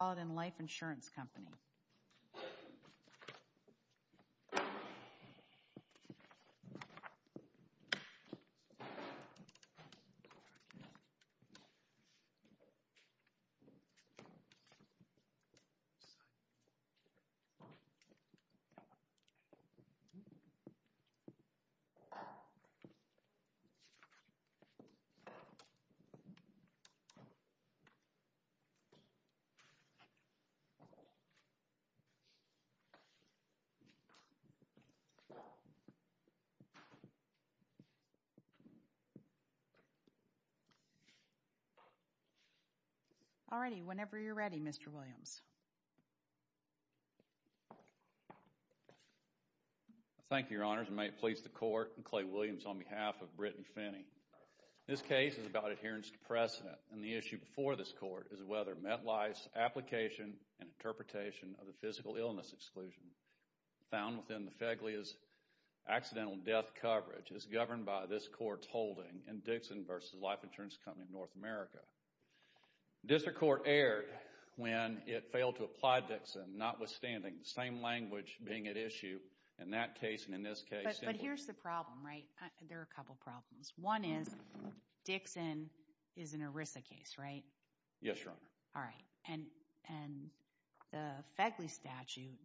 Auden Life Insurance Company. All righty, whenever you're ready, Mr. Williams. Thank you, Your Honors. May it please the Court, I'm Clay Williams on behalf of Brittany Finney. This case is about adherence to precedent, and the issue before this Court is whether the MetLife's application and interpretation of the physical illness exclusion found within the FEGLI's accidental death coverage is governed by this Court's holding in Dixon v. Life Insurance Company of North America. District Court erred when it failed to apply Dixon, notwithstanding the same language being at issue in that case and in this case. But here's the problem, right? There are a couple problems. One is Dixon is an ERISA case, right? Yes, Your Honor. All right. And the FEGLI statute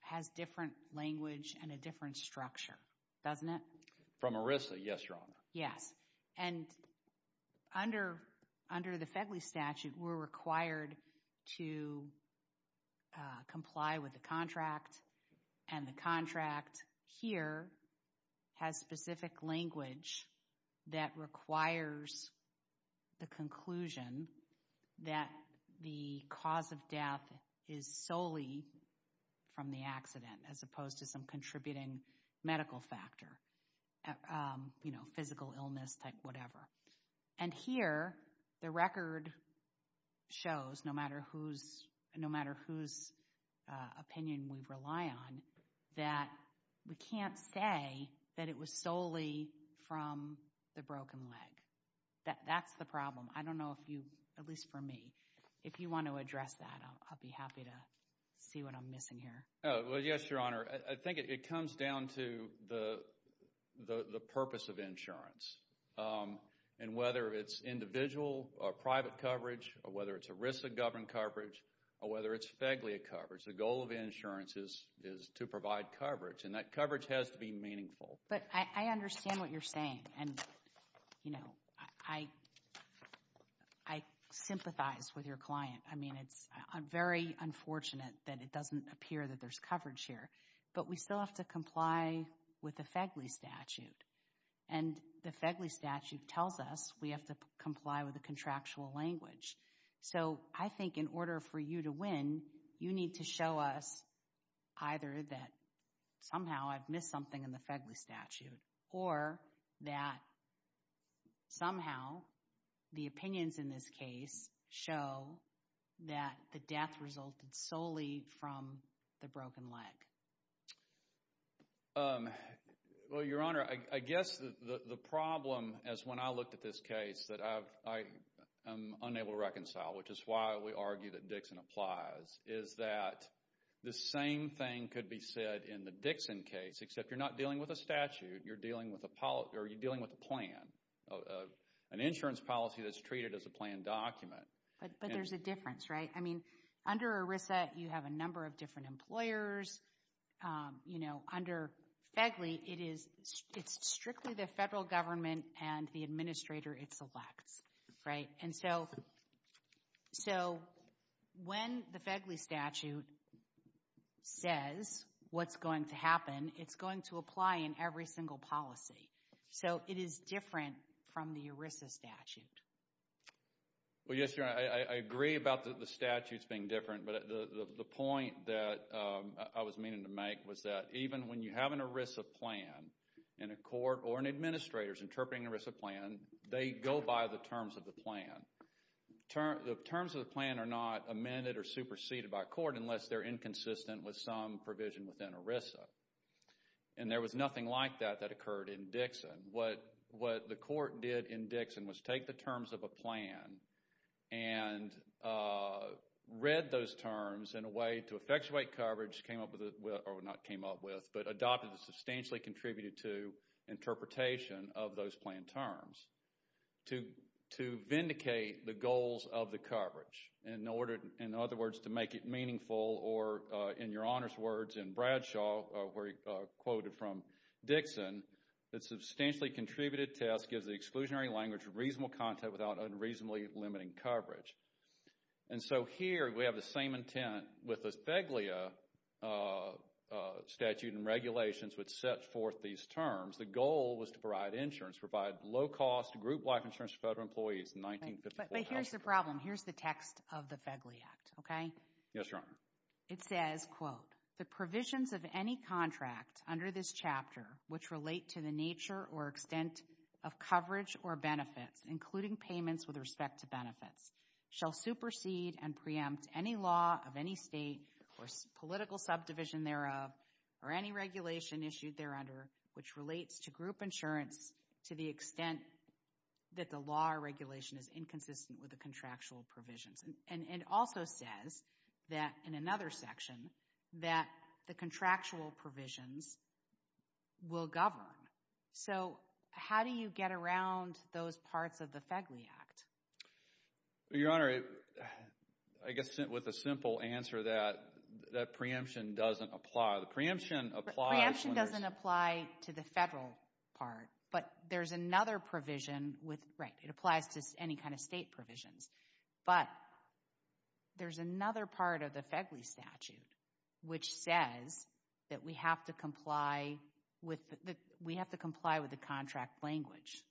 has different language and a different structure, doesn't it? From ERISA, yes, Your Honor. Yes. And under the FEGLI statute, we're required to comply with the contract, and the contract here has specific language that requires the conclusion that the cause of death is solely from the accident, as opposed to some contributing medical factor, you know, physical illness type whatever. And here, the record shows, no matter whose opinion we rely on, that we can't say that it was solely from the broken leg. That's the problem. I don't know if you, at least for me, if you want to address that, I'll be happy to see what I'm missing here. Well, yes, Your Honor. I think it comes down to the purpose of insurance. And whether it's individual or private coverage, or whether it's ERISA-governed coverage, or whether it's FEGLI coverage, the goal of insurance is to provide coverage, and that coverage has to be meaningful. But I understand what you're saying, and, you know, I sympathize with your client. I mean, it's very unfortunate that it doesn't appear that there's coverage here. But we still have to comply with the FEGLI statute. And the FEGLI statute tells us we have to comply with the contractual language. So I think in order for you to win, you need to show us either that somehow I've missed something in the FEGLI statute, or that somehow the opinions in this case show that the death resulted solely from the broken leg. Well, Your Honor, I guess the problem, as when I looked at this case, that I am unable to reconcile, which is why we argue that Dixon applies, is that the same thing could be said in the Dixon case, except you're not dealing with a statute, you're dealing with a plan, an insurance policy that's treated as a planned document. But there's a difference, right? I mean, under ERISA, you have a number of different employers. You know, under FEGLI, it's strictly the federal government and the administrator it selects, right? And so when the FEGLI statute says what's going to happen, it's going to apply in every single policy. So it is different from the ERISA statute. Well, yes, Your Honor, I agree about the statutes being different, but the point that I was meaning to make was that even when you have an ERISA plan, and a court or an administrator is interpreting an ERISA plan, they go by the terms of the plan. The terms of the plan are not amended or superseded by court unless they're inconsistent with some provision within ERISA. And there was nothing like that that occurred in Dixon. What the court did in Dixon was take the terms of a plan and read those terms in a way to effectuate coverage, came up with, or not came up with, but adopted the substantially contributed to interpretation of those plan terms to vindicate the goals of the coverage. In other words, to make it meaningful, or in Your Honor's words in Bradshaw, quoted from Dixon, the substantially contributed test gives the exclusionary language reasonable content without unreasonably limiting coverage. And so here we have the same intent with the FEGLIA statute and regulations which set forth these terms. The goal was to provide insurance, provide low-cost group life insurance to federal employees in 1952. But here's the problem. Here's the text of the FEGLIA Act, okay? Yes, Your Honor. It says, quote, the provisions of any contract under this chapter which relate to the nature or extent of coverage or benefits, including payments with respect to benefits, shall supersede and preempt any law of any state or political subdivision thereof or any regulation issued thereunder which relates to group insurance to the extent that the law or regulation is inconsistent with the contractual provisions. And it also says that in another section that the contractual provisions will govern. So how do you get around those parts of the FEGLIA Act? Your Honor, I guess with a simple answer that that preemption doesn't apply. The preemption applies when there's... Preemption doesn't apply to the federal part. But there's another provision with, right, it applies to any kind of state provisions. But there's another part of the FEGLIA statute which says that we have to comply with... We have to comply with the contract language.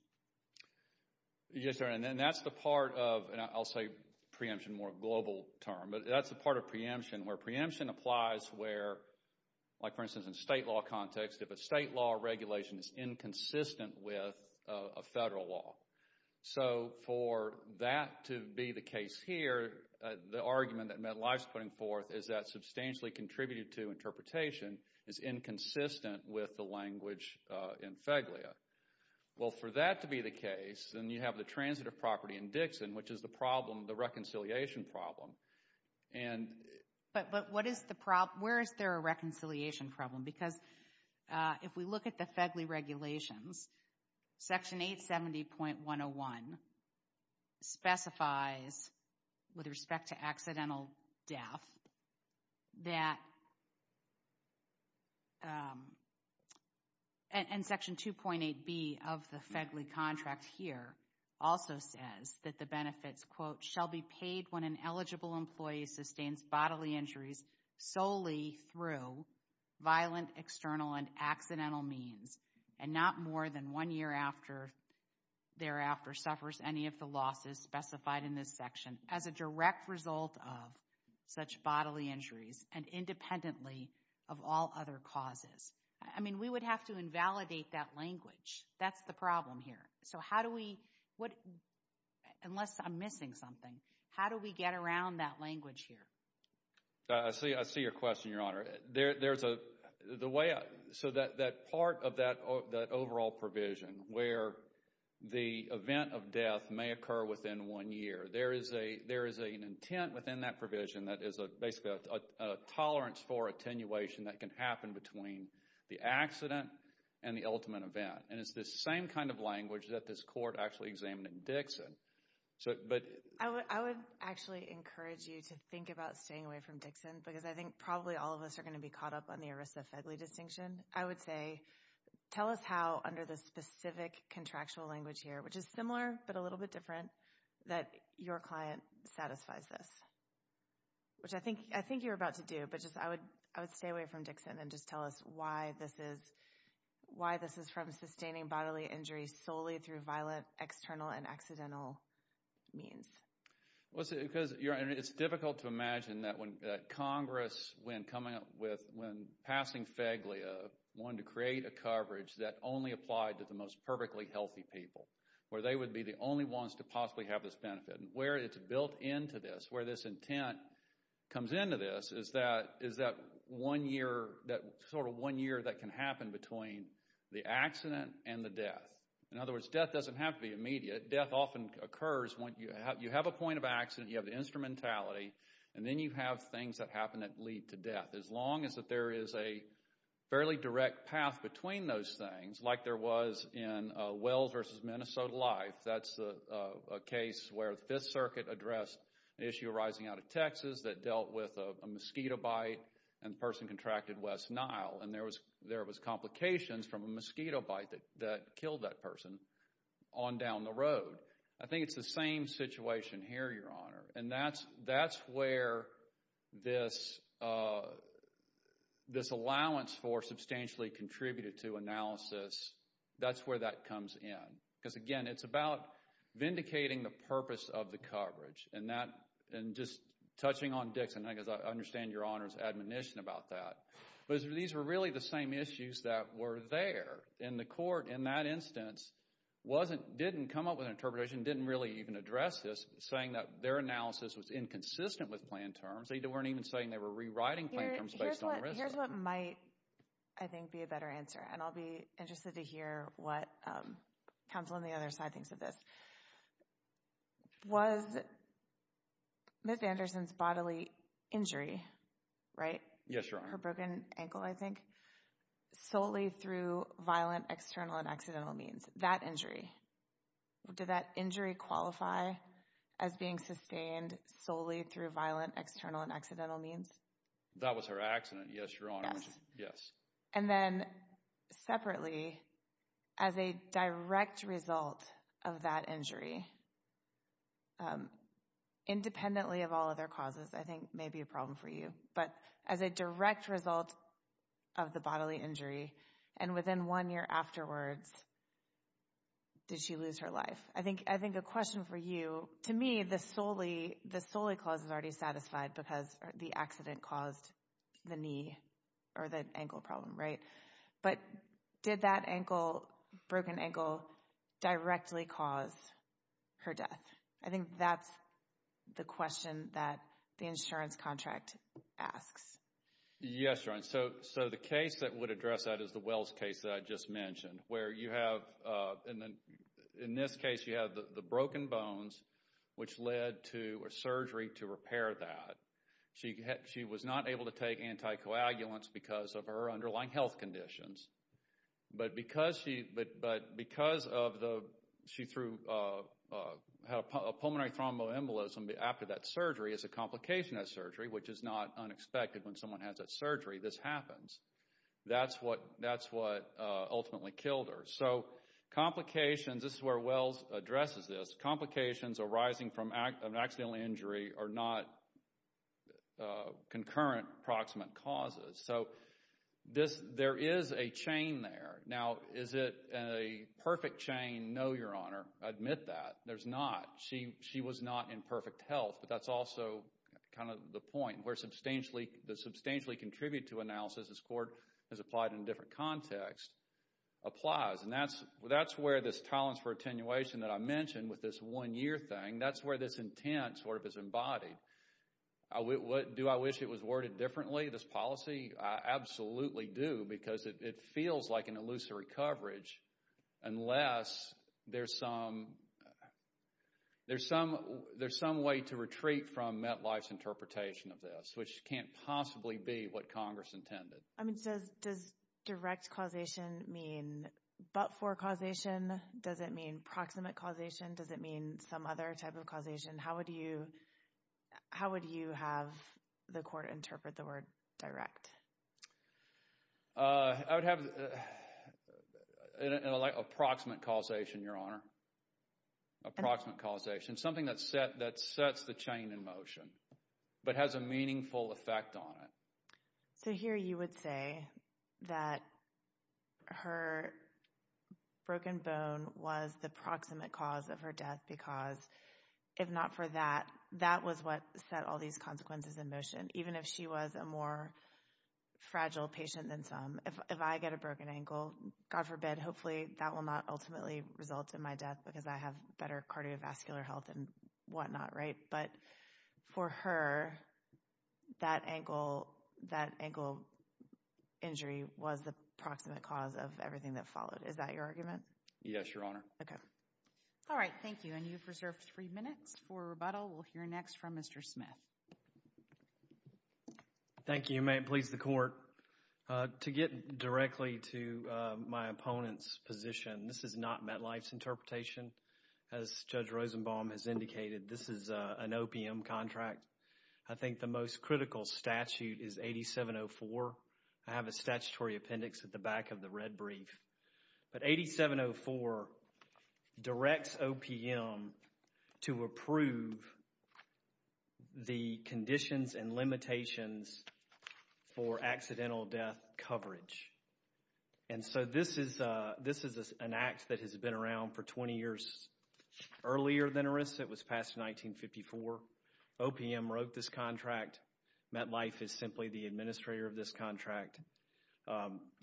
Yes, Your Honor. And that's the part of, and I'll say preemption more global term, but that's the part of preemption where preemption applies where, like for instance in state law context, if a state law regulation is inconsistent with a federal law. So for that to be the case here, the argument that Medline is putting forth is that substantially contributed to interpretation is inconsistent with the language in FEGLIA. Well for that to be the case, then you have the transitive property in Dixon which is the problem, the reconciliation problem. And... But what is the problem? Where is there a reconciliation problem? Because if we look at the FEGLIA regulations, Section 870.101 specifies with respect to accidental death that... And Section 2.8b of the FEGLIA contract here also says that the benefits, quote, shall be paid when an eligible employee sustains bodily injuries solely through violent external and accidental means and not more than one year thereafter suffers any of the losses specified in this section as a direct result of such bodily injuries and independently of all other causes. I mean, we would have to invalidate that language. That's the problem here. So how do we, unless I'm missing something, how do we get around that language here? I see your question, Your Honor. There's a... The way... So that part of that overall provision where the event of death may occur within one year, there is an intent within that provision that is basically a tolerance for attenuation that can happen between the accident and the ultimate event. And it's the same kind of language that this court actually examined in Dixon. But... I would actually encourage you to think about staying away from Dixon because I think probably all of us are going to be caught up on the ERISA FEGLIA distinction. I would say, tell us how under the specific contractual language here, which is similar but a little bit different, that your client satisfies this, which I think you're about to do. I would stay away from Dixon and just tell us why this is from sustaining bodily injury solely through violent, external, and accidental means. Well, it's difficult to imagine that when Congress, when passing FEGLIA, wanted to create a coverage that only applied to the most perfectly healthy people, where they would be the only ones to possibly have this benefit, where it's built into this, where this intent comes into this, is that one year, that sort of one year that can happen between the accident and the death. In other words, death doesn't have to be immediate. Death often occurs when you have a point of accident, you have the instrumentality, and then you have things that happen that lead to death, as long as there is a fairly direct path between those things, like there was in Wells v. Minnesota Life. That's a case where the Fifth Circuit addressed an issue arising out of Texas that dealt with a mosquito bite, and the person contracted West Nile, and there was complications from a mosquito bite that killed that person on down the road. I think it's the same situation here, Your Honor, and that's where this allowance for substantially contributed to analysis, that's where that comes in. Because, again, it's about vindicating the purpose of the coverage, and just touching on Dixon, because I understand Your Honor's admonition about that, but these were really the same issues that were there in the court in that instance, didn't come up with an interpretation, didn't really even address this, saying that their analysis was inconsistent with plan terms. They weren't even saying they were rewriting plan terms based on risk. Here's what might, I think, be a better answer, and I'll be interested to hear what counsel on the other side thinks of this. Was Ms. Anderson's bodily injury, her broken ankle, I think, solely through violent external and accidental means? That injury. Did that injury qualify as being sustained solely through violent external and accidental means? That was her accident, yes, Your Honor. Yes. And then, separately, as a direct result of that injury, independently of all other causes, I think may be a problem for you, but as a direct result of the bodily injury, and within one year afterwards, did she lose her life? I think a question for you, to me, the solely clause is already satisfied because the accident caused the knee, or the ankle problem, right? But did that ankle, broken ankle, directly cause her death? I think that's the question that the insurance contract asks. Yes, Your Honor. So the case that would address that is the Wells case that I just mentioned, where you have, in this case, you have the broken bones, which led to a surgery to repair that. She was not able to take anticoagulants because of her underlying health conditions. But because she, but because of the, she threw, had a pulmonary thromboembolism after that surgery as a complication of that surgery, which is not unexpected when someone has that surgery, this happens. That's what, that's what ultimately killed her. So complications, this is where Wells addresses this, complications arising from an accidental injury are not concurrent, proximate causes. So this, there is a chain there. Now is it a perfect chain? No, Your Honor. I admit that. There's not. She, she was not in perfect health, but that's also kind of the point where substantially, the substantially contributed to analysis, as court has applied in a different context, applies. And that's, that's where this tolerance for attenuation that I mentioned with this one year thing, that's where this intent sort of is embodied. Do I wish it was worded differently, this policy? I absolutely do because it feels like an illusory coverage unless there's some, there's some, there's some way to retreat from MetLife's interpretation of this, which can't possibly be what Congress intended. I mean, does direct causation mean but-for causation? Does it mean proximate causation? Does it mean some other type of causation? How would you, how would you have the court interpret the word direct? I would have approximate causation, Your Honor. Approximate causation. Something that's set, that sets the chain in motion, but has a meaningful effect on it. So here you would say that her broken bone was the proximate cause of her death because, if not for that, that was what set all these consequences in motion. Even if she was a more fragile patient than some, if I get a broken ankle, God forbid, hopefully that will not ultimately result in my death because I have better cardiovascular health and whatnot, right? But for her, that ankle, that ankle injury was the proximate cause of everything that Is that your argument? Yes, Your Honor. Okay. All right. Thank you. And you've reserved three minutes for rebuttal. We'll hear next from Mr. Smith. Thank you. May it please the Court. To get directly to my opponent's position, this is not MetLife's interpretation. As Judge Rosenbaum has indicated, this is an OPM contract. I think the most critical statute is 8704. I have a statutory appendix at the back of the red brief. But 8704 directs OPM to approve the conditions and limitations for accidental death coverage. And so this is an act that has been around for 20 years earlier than Eris. It was passed in 1954. OPM wrote this contract. MetLife is simply the administrator of this contract.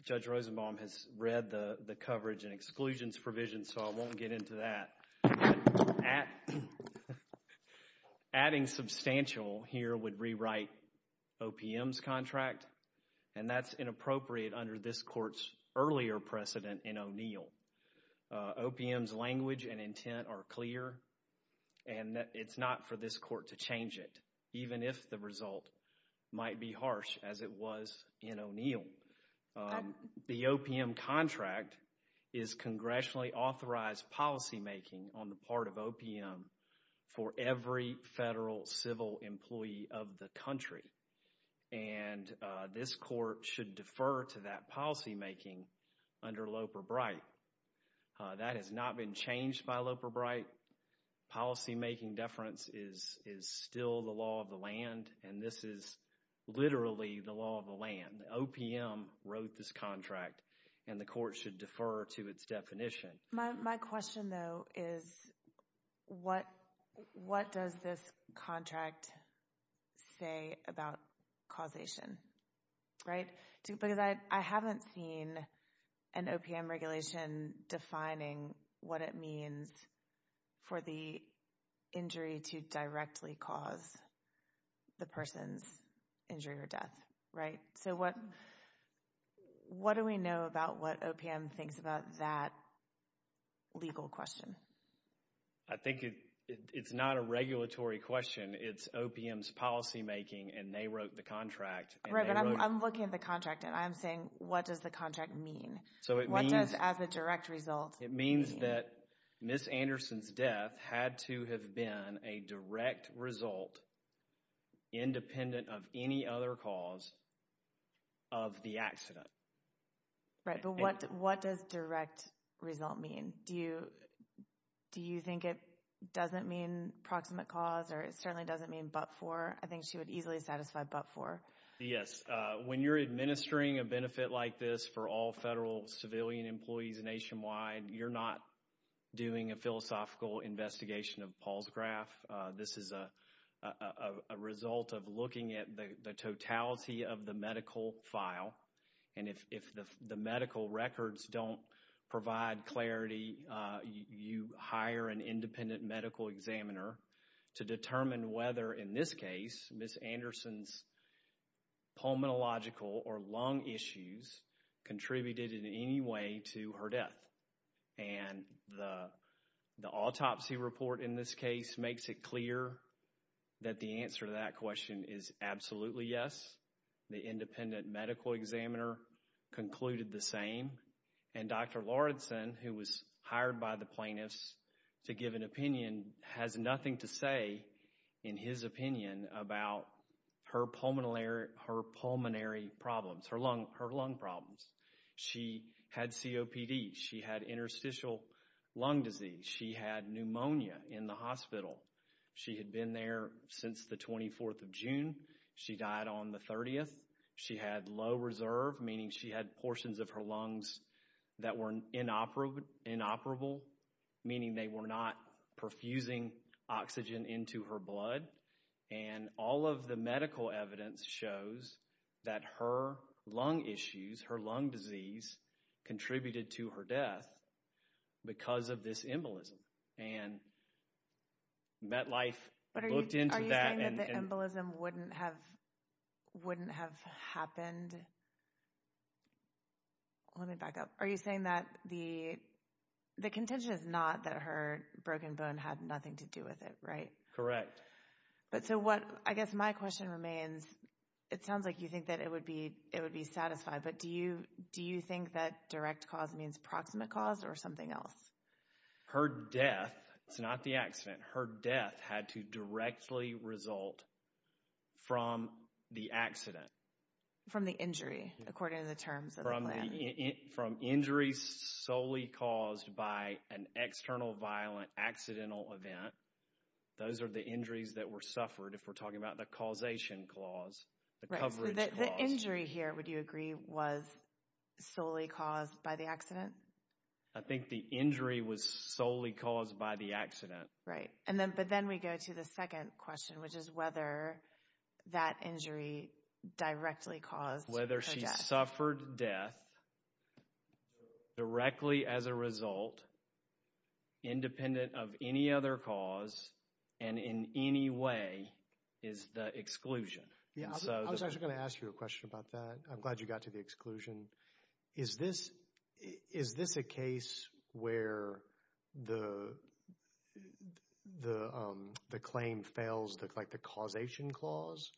Judge Rosenbaum has read the coverage and exclusions provisions, so I won't get into that. Adding substantial here would rewrite OPM's contract. And that's inappropriate under this Court's earlier precedent in O'Neill. OPM's language and intent are clear, and it's not for this Court to change it, even if the result might be harsh as it was in O'Neill. The OPM contract is congressionally authorized policymaking on the part of OPM for every federal civil employee of the country. And this Court should defer to that policymaking under Loper-Bright. That has not been changed by Loper-Bright. Policymaking deference is still the law of the land, and this is literally the law of the land. OPM wrote this contract, and the Court should defer to its definition. My question, though, is what does this contract say about causation? Right? Because I haven't seen an OPM regulation defining what it means for the injury to directly cause the person's injury or death, right? So what do we know about what OPM thinks about that legal question? I think it's not a regulatory question. It's OPM's policymaking, and they wrote the contract. Right, but I'm looking at the contract, and I'm saying, what does the contract mean? So it means... What does as a direct result... It means that Ms. Anderson's death had to have been a direct result, independent of any other cause of the accident. Right, but what does direct result mean? Do you think it doesn't mean proximate cause, or it certainly doesn't mean but for? I think she would easily satisfy but for. Yes. When you're administering a benefit like this for all federal civilian employees nationwide, you're not doing a philosophical investigation of Paul's graph. This is a result of looking at the totality of the medical file, and if the medical records don't provide clarity, you hire an independent medical examiner to determine whether in this case Ms. Anderson's pulmonological or lung issues contributed in any way to her death. And the autopsy report in this case makes it clear that the answer to that question is absolutely yes. The independent medical examiner concluded the same. And Dr. Lauridsen, who was hired by the plaintiffs to give an opinion, has nothing to say in his opinion about her pulmonary problems, her lung problems. She had COPD. She had interstitial lung disease. She had pneumonia in the hospital. She had been there since the 24th of June. She died on the 30th. She had low reserve, meaning she had portions of her lungs that were inoperable, meaning they were not perfusing oxygen into her blood. And all of the medical evidence shows that her lung issues, her lung disease, contributed to her death because of this embolism. And MetLife looked into that and... But are you saying that the embolism wouldn't have happened? Let me back up. Are you saying that the contention is not that her broken bone had nothing to do with it, right? Correct. But so what, I guess my question remains, it sounds like you think that it would be satisfied, but do you think that direct cause means proximate cause or something else? Her death, it's not the accident, her death had to directly result from the accident. From the injury, according to the terms of the plan. From injuries solely caused by an external violent accidental event, those are the injuries that were suffered if we're talking about the causation clause, the coverage clause. The injury here, would you agree, was solely caused by the accident? I think the injury was solely caused by the accident. Right. But then we go to the second question, which is whether that injury directly caused her death. She suffered death directly as a result, independent of any other cause, and in any way is the exclusion. I was actually going to ask you a question about that, I'm glad you got to the exclusion. Is this a case where the claim fails the causation clause,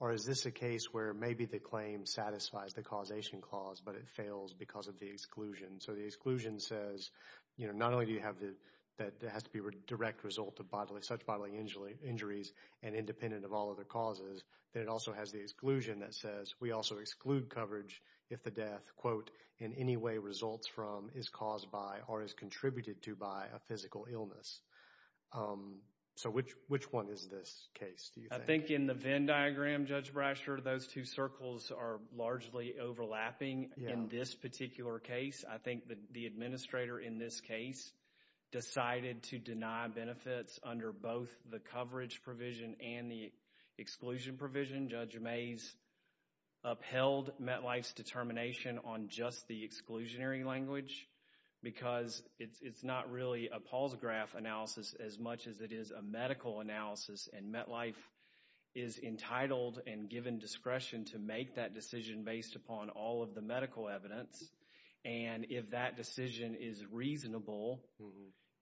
or is this a case where maybe the claim satisfies the causation clause, but it fails because of the exclusion? So the exclusion says, not only do you have the, that has to be a direct result of bodily, such bodily injuries, and independent of all other causes, then it also has the exclusion that says, we also exclude coverage if the death, quote, in any way results from, is caused by, or is contributed to by a physical illness. So which one is this case, do you think? I think in the Venn diagram, Judge Brasher, those two circles are largely overlapping in this particular case. I think the administrator in this case decided to deny benefits under both the coverage provision and the exclusion provision. Judge Mays upheld MetLife's determination on just the exclusionary language because it's not really a Paul's graph analysis as much as it is a medical analysis, and MetLife is entitled and given discretion to make that decision based upon all of the medical evidence, and if that decision is reasonable,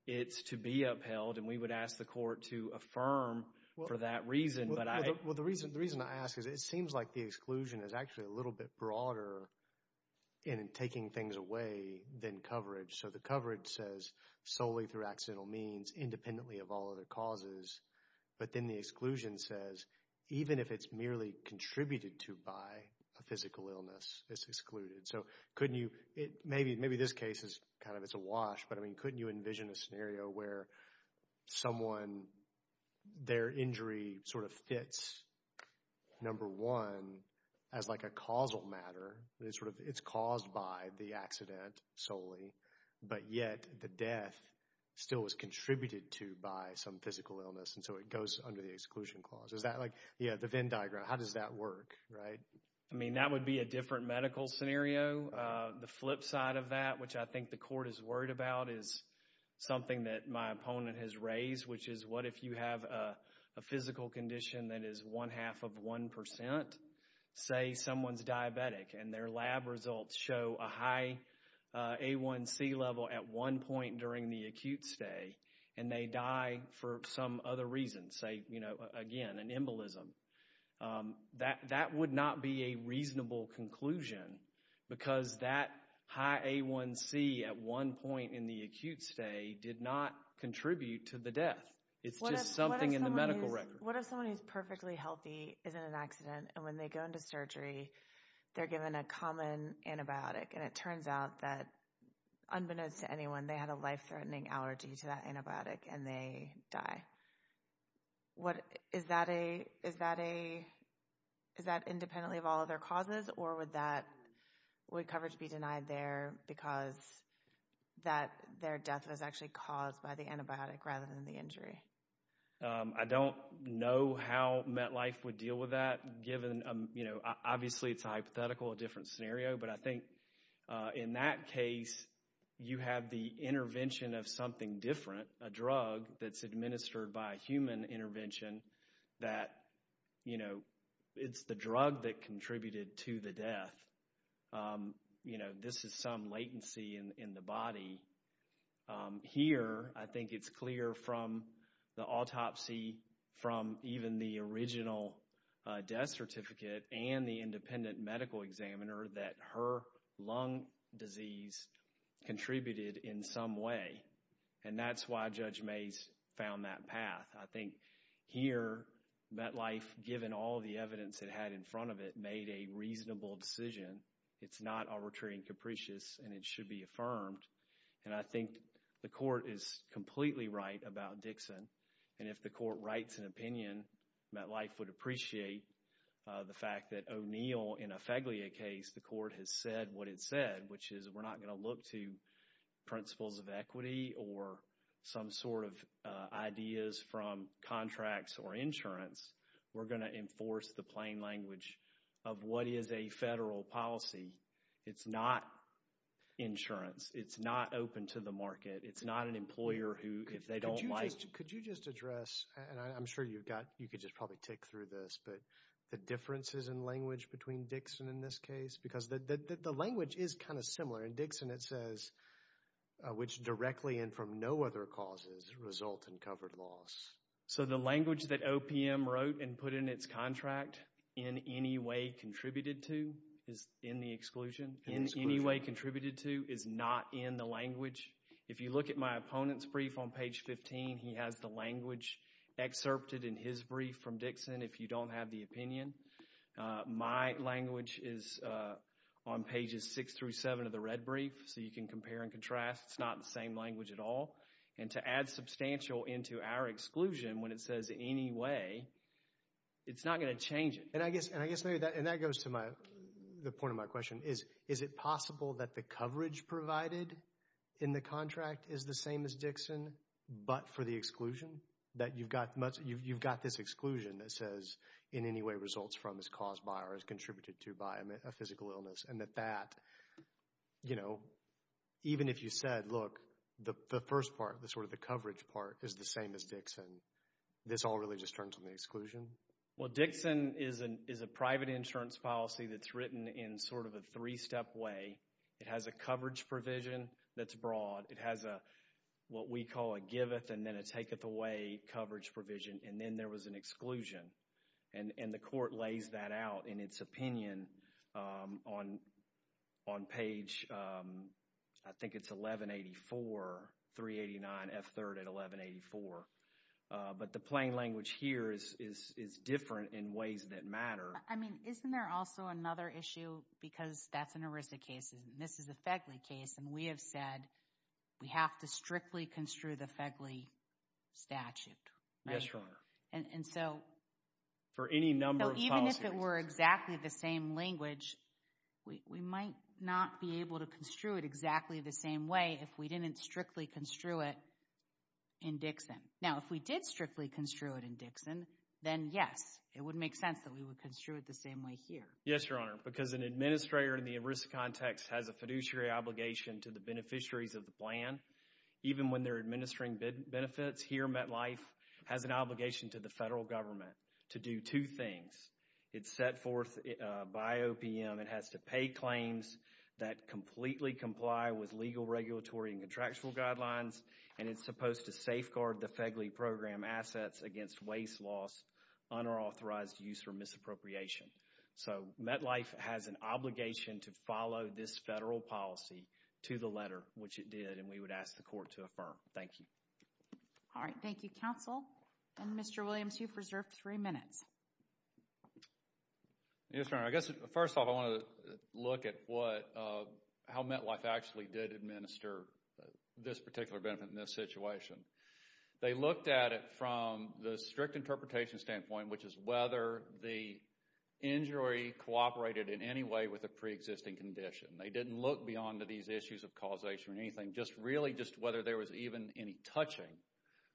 it's to be upheld, and we would ask the court to affirm for that reason, but I... Well, the reason I ask is it seems like the exclusion is actually a little bit broader in taking things away than coverage. So the coverage says, solely through accidental means, independently of all other causes, but then the exclusion says, even if it's merely contributed to by a physical illness, it's excluded. So, couldn't you, maybe this case is kind of, it's a wash, but I mean, couldn't you envision a scenario where someone, their injury sort of fits, number one, as like a causal matter, and it's sort of, it's caused by the accident solely, but yet the death still was contributed to by some physical illness, and so it goes under the exclusion clause. Is that like, yeah, the Venn diagram, how does that work, right? I mean, that would be a different medical scenario. The flip side of that, which I think the court is worried about, is something that my opponent has raised, which is, what if you have a physical condition that is one-half of one percent? Say someone's diabetic, and their lab results show a high A1C level at one point during the acute stay, and they die for some other reason, say, you know, again, an embolism. That would not be a reasonable conclusion, because that high A1C at one point in the acute stay did not contribute to the death. It's just something in the medical record. What if someone who's perfectly healthy is in an accident, and when they go into surgery, they're given a common antibiotic, and it turns out that, unbeknownst to anyone, they had a life-threatening allergy to that antibiotic, and they die? What, is that a, is that a, is that independently of all other causes, or would that, would coverage be denied there because that, their death was actually caused by the antibiotic rather than the injury? I don't know how MetLife would deal with that, given, you know, obviously it's a hypothetical, a different scenario, but I think in that case, you have the intervention of something different, a drug that's administered by a human intervention that, you know, it's the drug that contributed to the death. You know, this is some latency in the body. Here, I think it's clear from the autopsy, from even the original death certificate and the independent medical examiner that her lung disease contributed in some way, and that's why Judge Mays found that path. I think here, MetLife, given all the evidence it had in front of it, made a reasonable decision. It's not arbitrary and capricious, and it should be affirmed, and I think the court is completely right about Dixon, and if the court writes an opinion, MetLife would appreciate the fact that O'Neill, in a Feglia case, the court has said what it said, which is we're not going to look to principles of equity or some sort of ideas from contracts or insurance. We're going to enforce the plain language of what is a federal policy. It's not insurance. It's not open to the market. It's not an employer who, if they don't like... Could you just address, and I'm sure you've got, you could just probably tick through this, but the differences in language between Dixon in this case, because the language is kind of similar. In Dixon, it says, which directly and from no other causes result in covered loss. So the language that OPM wrote and put in its contract, in any way contributed to, is in the exclusion? In the exclusion. In any way contributed to, is not in the language. If you look at my opponent's brief on page 15, he has the language excerpted in his brief from Dixon, if you don't have the opinion. My language is on pages 6 through 7 of the red brief, so you can compare and contrast. It's not the same language at all, and to add substantial into our exclusion when it says any way, it's not going to change it. And I guess, and I guess maybe that, and that goes to my, the point of my question, is, is it possible that the coverage provided in the contract is the same as Dixon, but for the exclusion? That you've got much, you've got this exclusion that says, in any way results from, is caused by, or is contributed to by a physical illness, and that that, you know, even if you said, look, the first part, the sort of the coverage part is the same as Dixon, this all really just turns on the exclusion? Well, Dixon is a private insurance policy that's written in sort of a three-step way. It has a coverage provision that's broad. It has a, what we call a giveth and then a taketh away coverage provision, and then there was an exclusion. And, and the court lays that out in its opinion on, on page, I think it's 1184, 389F3 at 1184. But the plain language here is, is, is different in ways that matter. I mean, isn't there also another issue, because that's an ERISA case, and this is a FEGLI case, and we have said, we have to strictly construe the FEGLI statute, right? Yes, Your Honor. And, and so, for any number of policies, even if it were exactly the same language, we, we might not be able to construe it exactly the same way if we didn't strictly construe it in Dixon. Now, if we did strictly construe it in Dixon, then yes, it would make sense that we would construe it the same way here. Yes, Your Honor, because an administrator in the ERISA context has a fiduciary obligation to the beneficiaries of the plan, even when they're administering benefits here, MetLife has an obligation to the federal government to do two things. It's set forth by OPM, it has to pay claims that completely comply with legal regulatory and contractual guidelines, and it's supposed to safeguard the FEGLI program assets against waste loss, unauthorized use, or misappropriation. So MetLife has an obligation to follow this federal policy to the letter, which it did, and we would ask the court to affirm. Thank you. All right. Thank you, counsel. And Mr. Williams, you've reserved three minutes. Yes, Your Honor, I guess first off, I want to look at what, how MetLife actually did administer this particular benefit in this situation. They looked at it from the strict interpretation standpoint, which is whether the injury cooperated in any way with a preexisting condition. They didn't look beyond these issues of causation or anything, just really just whether there was even any touching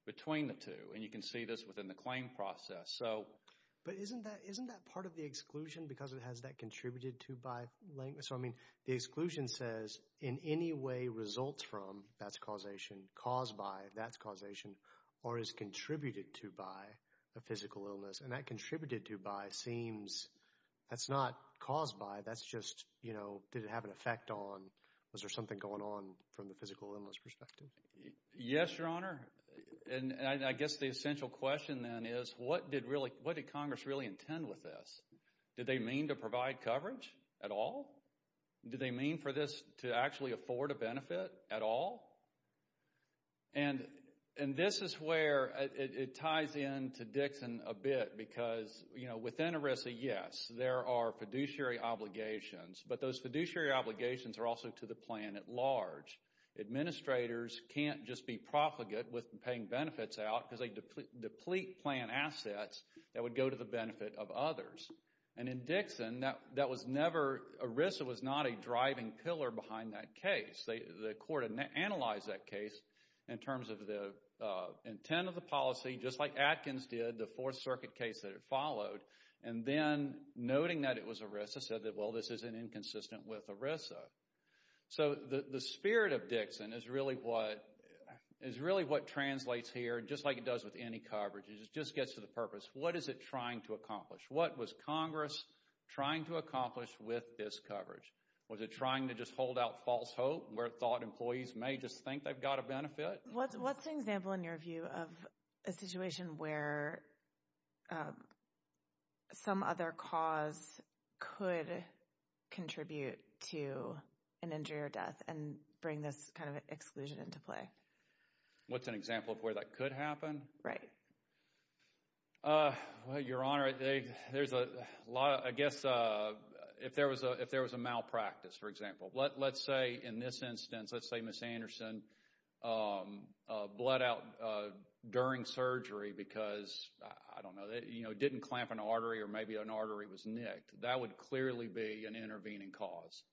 between the two, and you can see this within the claim process. So... But isn't that, isn't that part of the exclusion because it has that contributed to by length? So, I mean, the exclusion says, in any way results from, that's causation, caused by, that's causation, or is contributed to by a physical illness, and that contributed to by seems, that's not caused by, that's just, you know, did it have an effect on, was there something going on from the physical illness perspective? Yes, Your Honor, and I guess the essential question then is, what did really, what did Congress really intend with this? Did they mean to provide coverage at all? Did they mean for this to actually afford a benefit at all? And this is where it ties in to Dixon a bit because, you know, within ERISA, yes, there are fiduciary obligations, but those fiduciary obligations are also to the plan at large. Administrators can't just be profligate with paying benefits out because they deplete plan assets that would go to the benefit of others. And in Dixon, that was never, ERISA was not a driving pillar behind that case. The court analyzed that case in terms of the intent of the policy, just like Atkins did, the Fourth Circuit case that it followed, and then noting that it was ERISA said that, well, this is inconsistent with ERISA. So the spirit of Dixon is really what, is really what translates here, just like it does with any coverage. It just gets to the purpose. What is it trying to accomplish? What was Congress trying to accomplish with this coverage? Was it trying to just hold out false hope where it thought employees may just think they've got a benefit? What's an example, in your view, of a situation where some other cause could contribute to an injury or death and bring this kind of exclusion into play? What's an example of where that could happen? Right. Well, Your Honor, there's a lot of, I guess, if there was a malpractice, for example. Let's say in this instance, let's say Ms. Anderson bled out during surgery because, I don't know, didn't clamp an artery or maybe an artery was nicked. That would clearly be an intervening cause.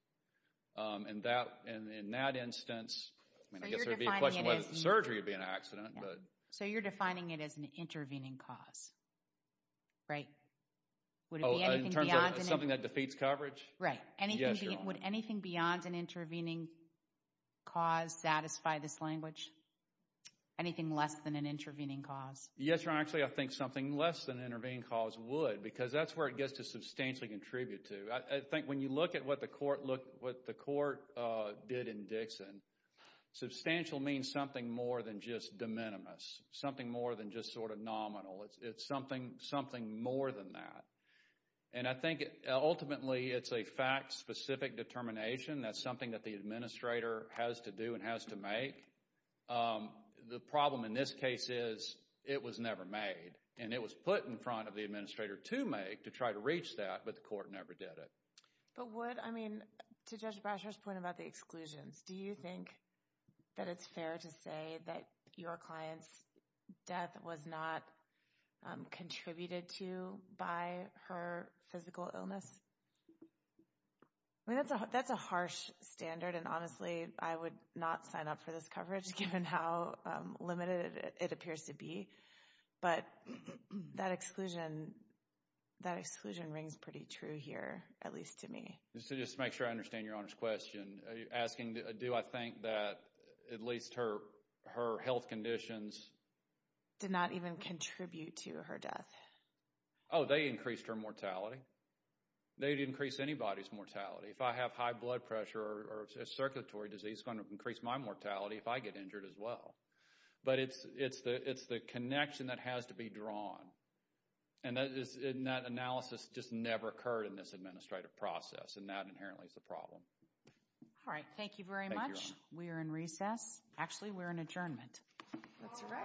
And in that instance, I guess there would be a question whether the surgery would be an accident. So you're defining it as an intervening cause, right? Would it be anything beyond? Oh, in terms of something that defeats coverage? Right. Yes, Your Honor. Would anything beyond an intervening cause satisfy this language? Anything less than an intervening cause? Yes, Your Honor. Actually, I think something less than an intervening cause would because that's where it gets to substantially contribute to. I think when you look at what the court did in Dixon, substantial means something more than just de minimis, something more than just sort of nominal. It's something more than that. And I think ultimately it's a fact-specific determination. That's something that the administrator has to do and has to make. The problem in this case is it was never made. And it was put in front of the administrator to make, to try to reach that, but the court never did it. But would, I mean, to Judge Brasher's point about the exclusions, do you think that it's fair to say that your client's death was not contributed to by her physical illness? I mean, that's a harsh standard, and honestly, I would not sign up for this coverage given how limited it appears to be, but that exclusion, that exclusion rings pretty true here, at least to me. Just to make sure I understand Your Honor's question, are you asking do I think that at least her health conditions did not even contribute to her death? Oh, they increased her mortality. They'd increase anybody's mortality. If I have high blood pressure or circulatory disease, it's going to increase my mortality if I get injured as well. But it's the connection that has to be drawn. And that analysis just never occurred in this administrative process, and that inherently is the problem. All right. Thank you very much. Thank you, Your Honor. We are in recess. Actually, we're in adjournment. That's all right. All right. All right.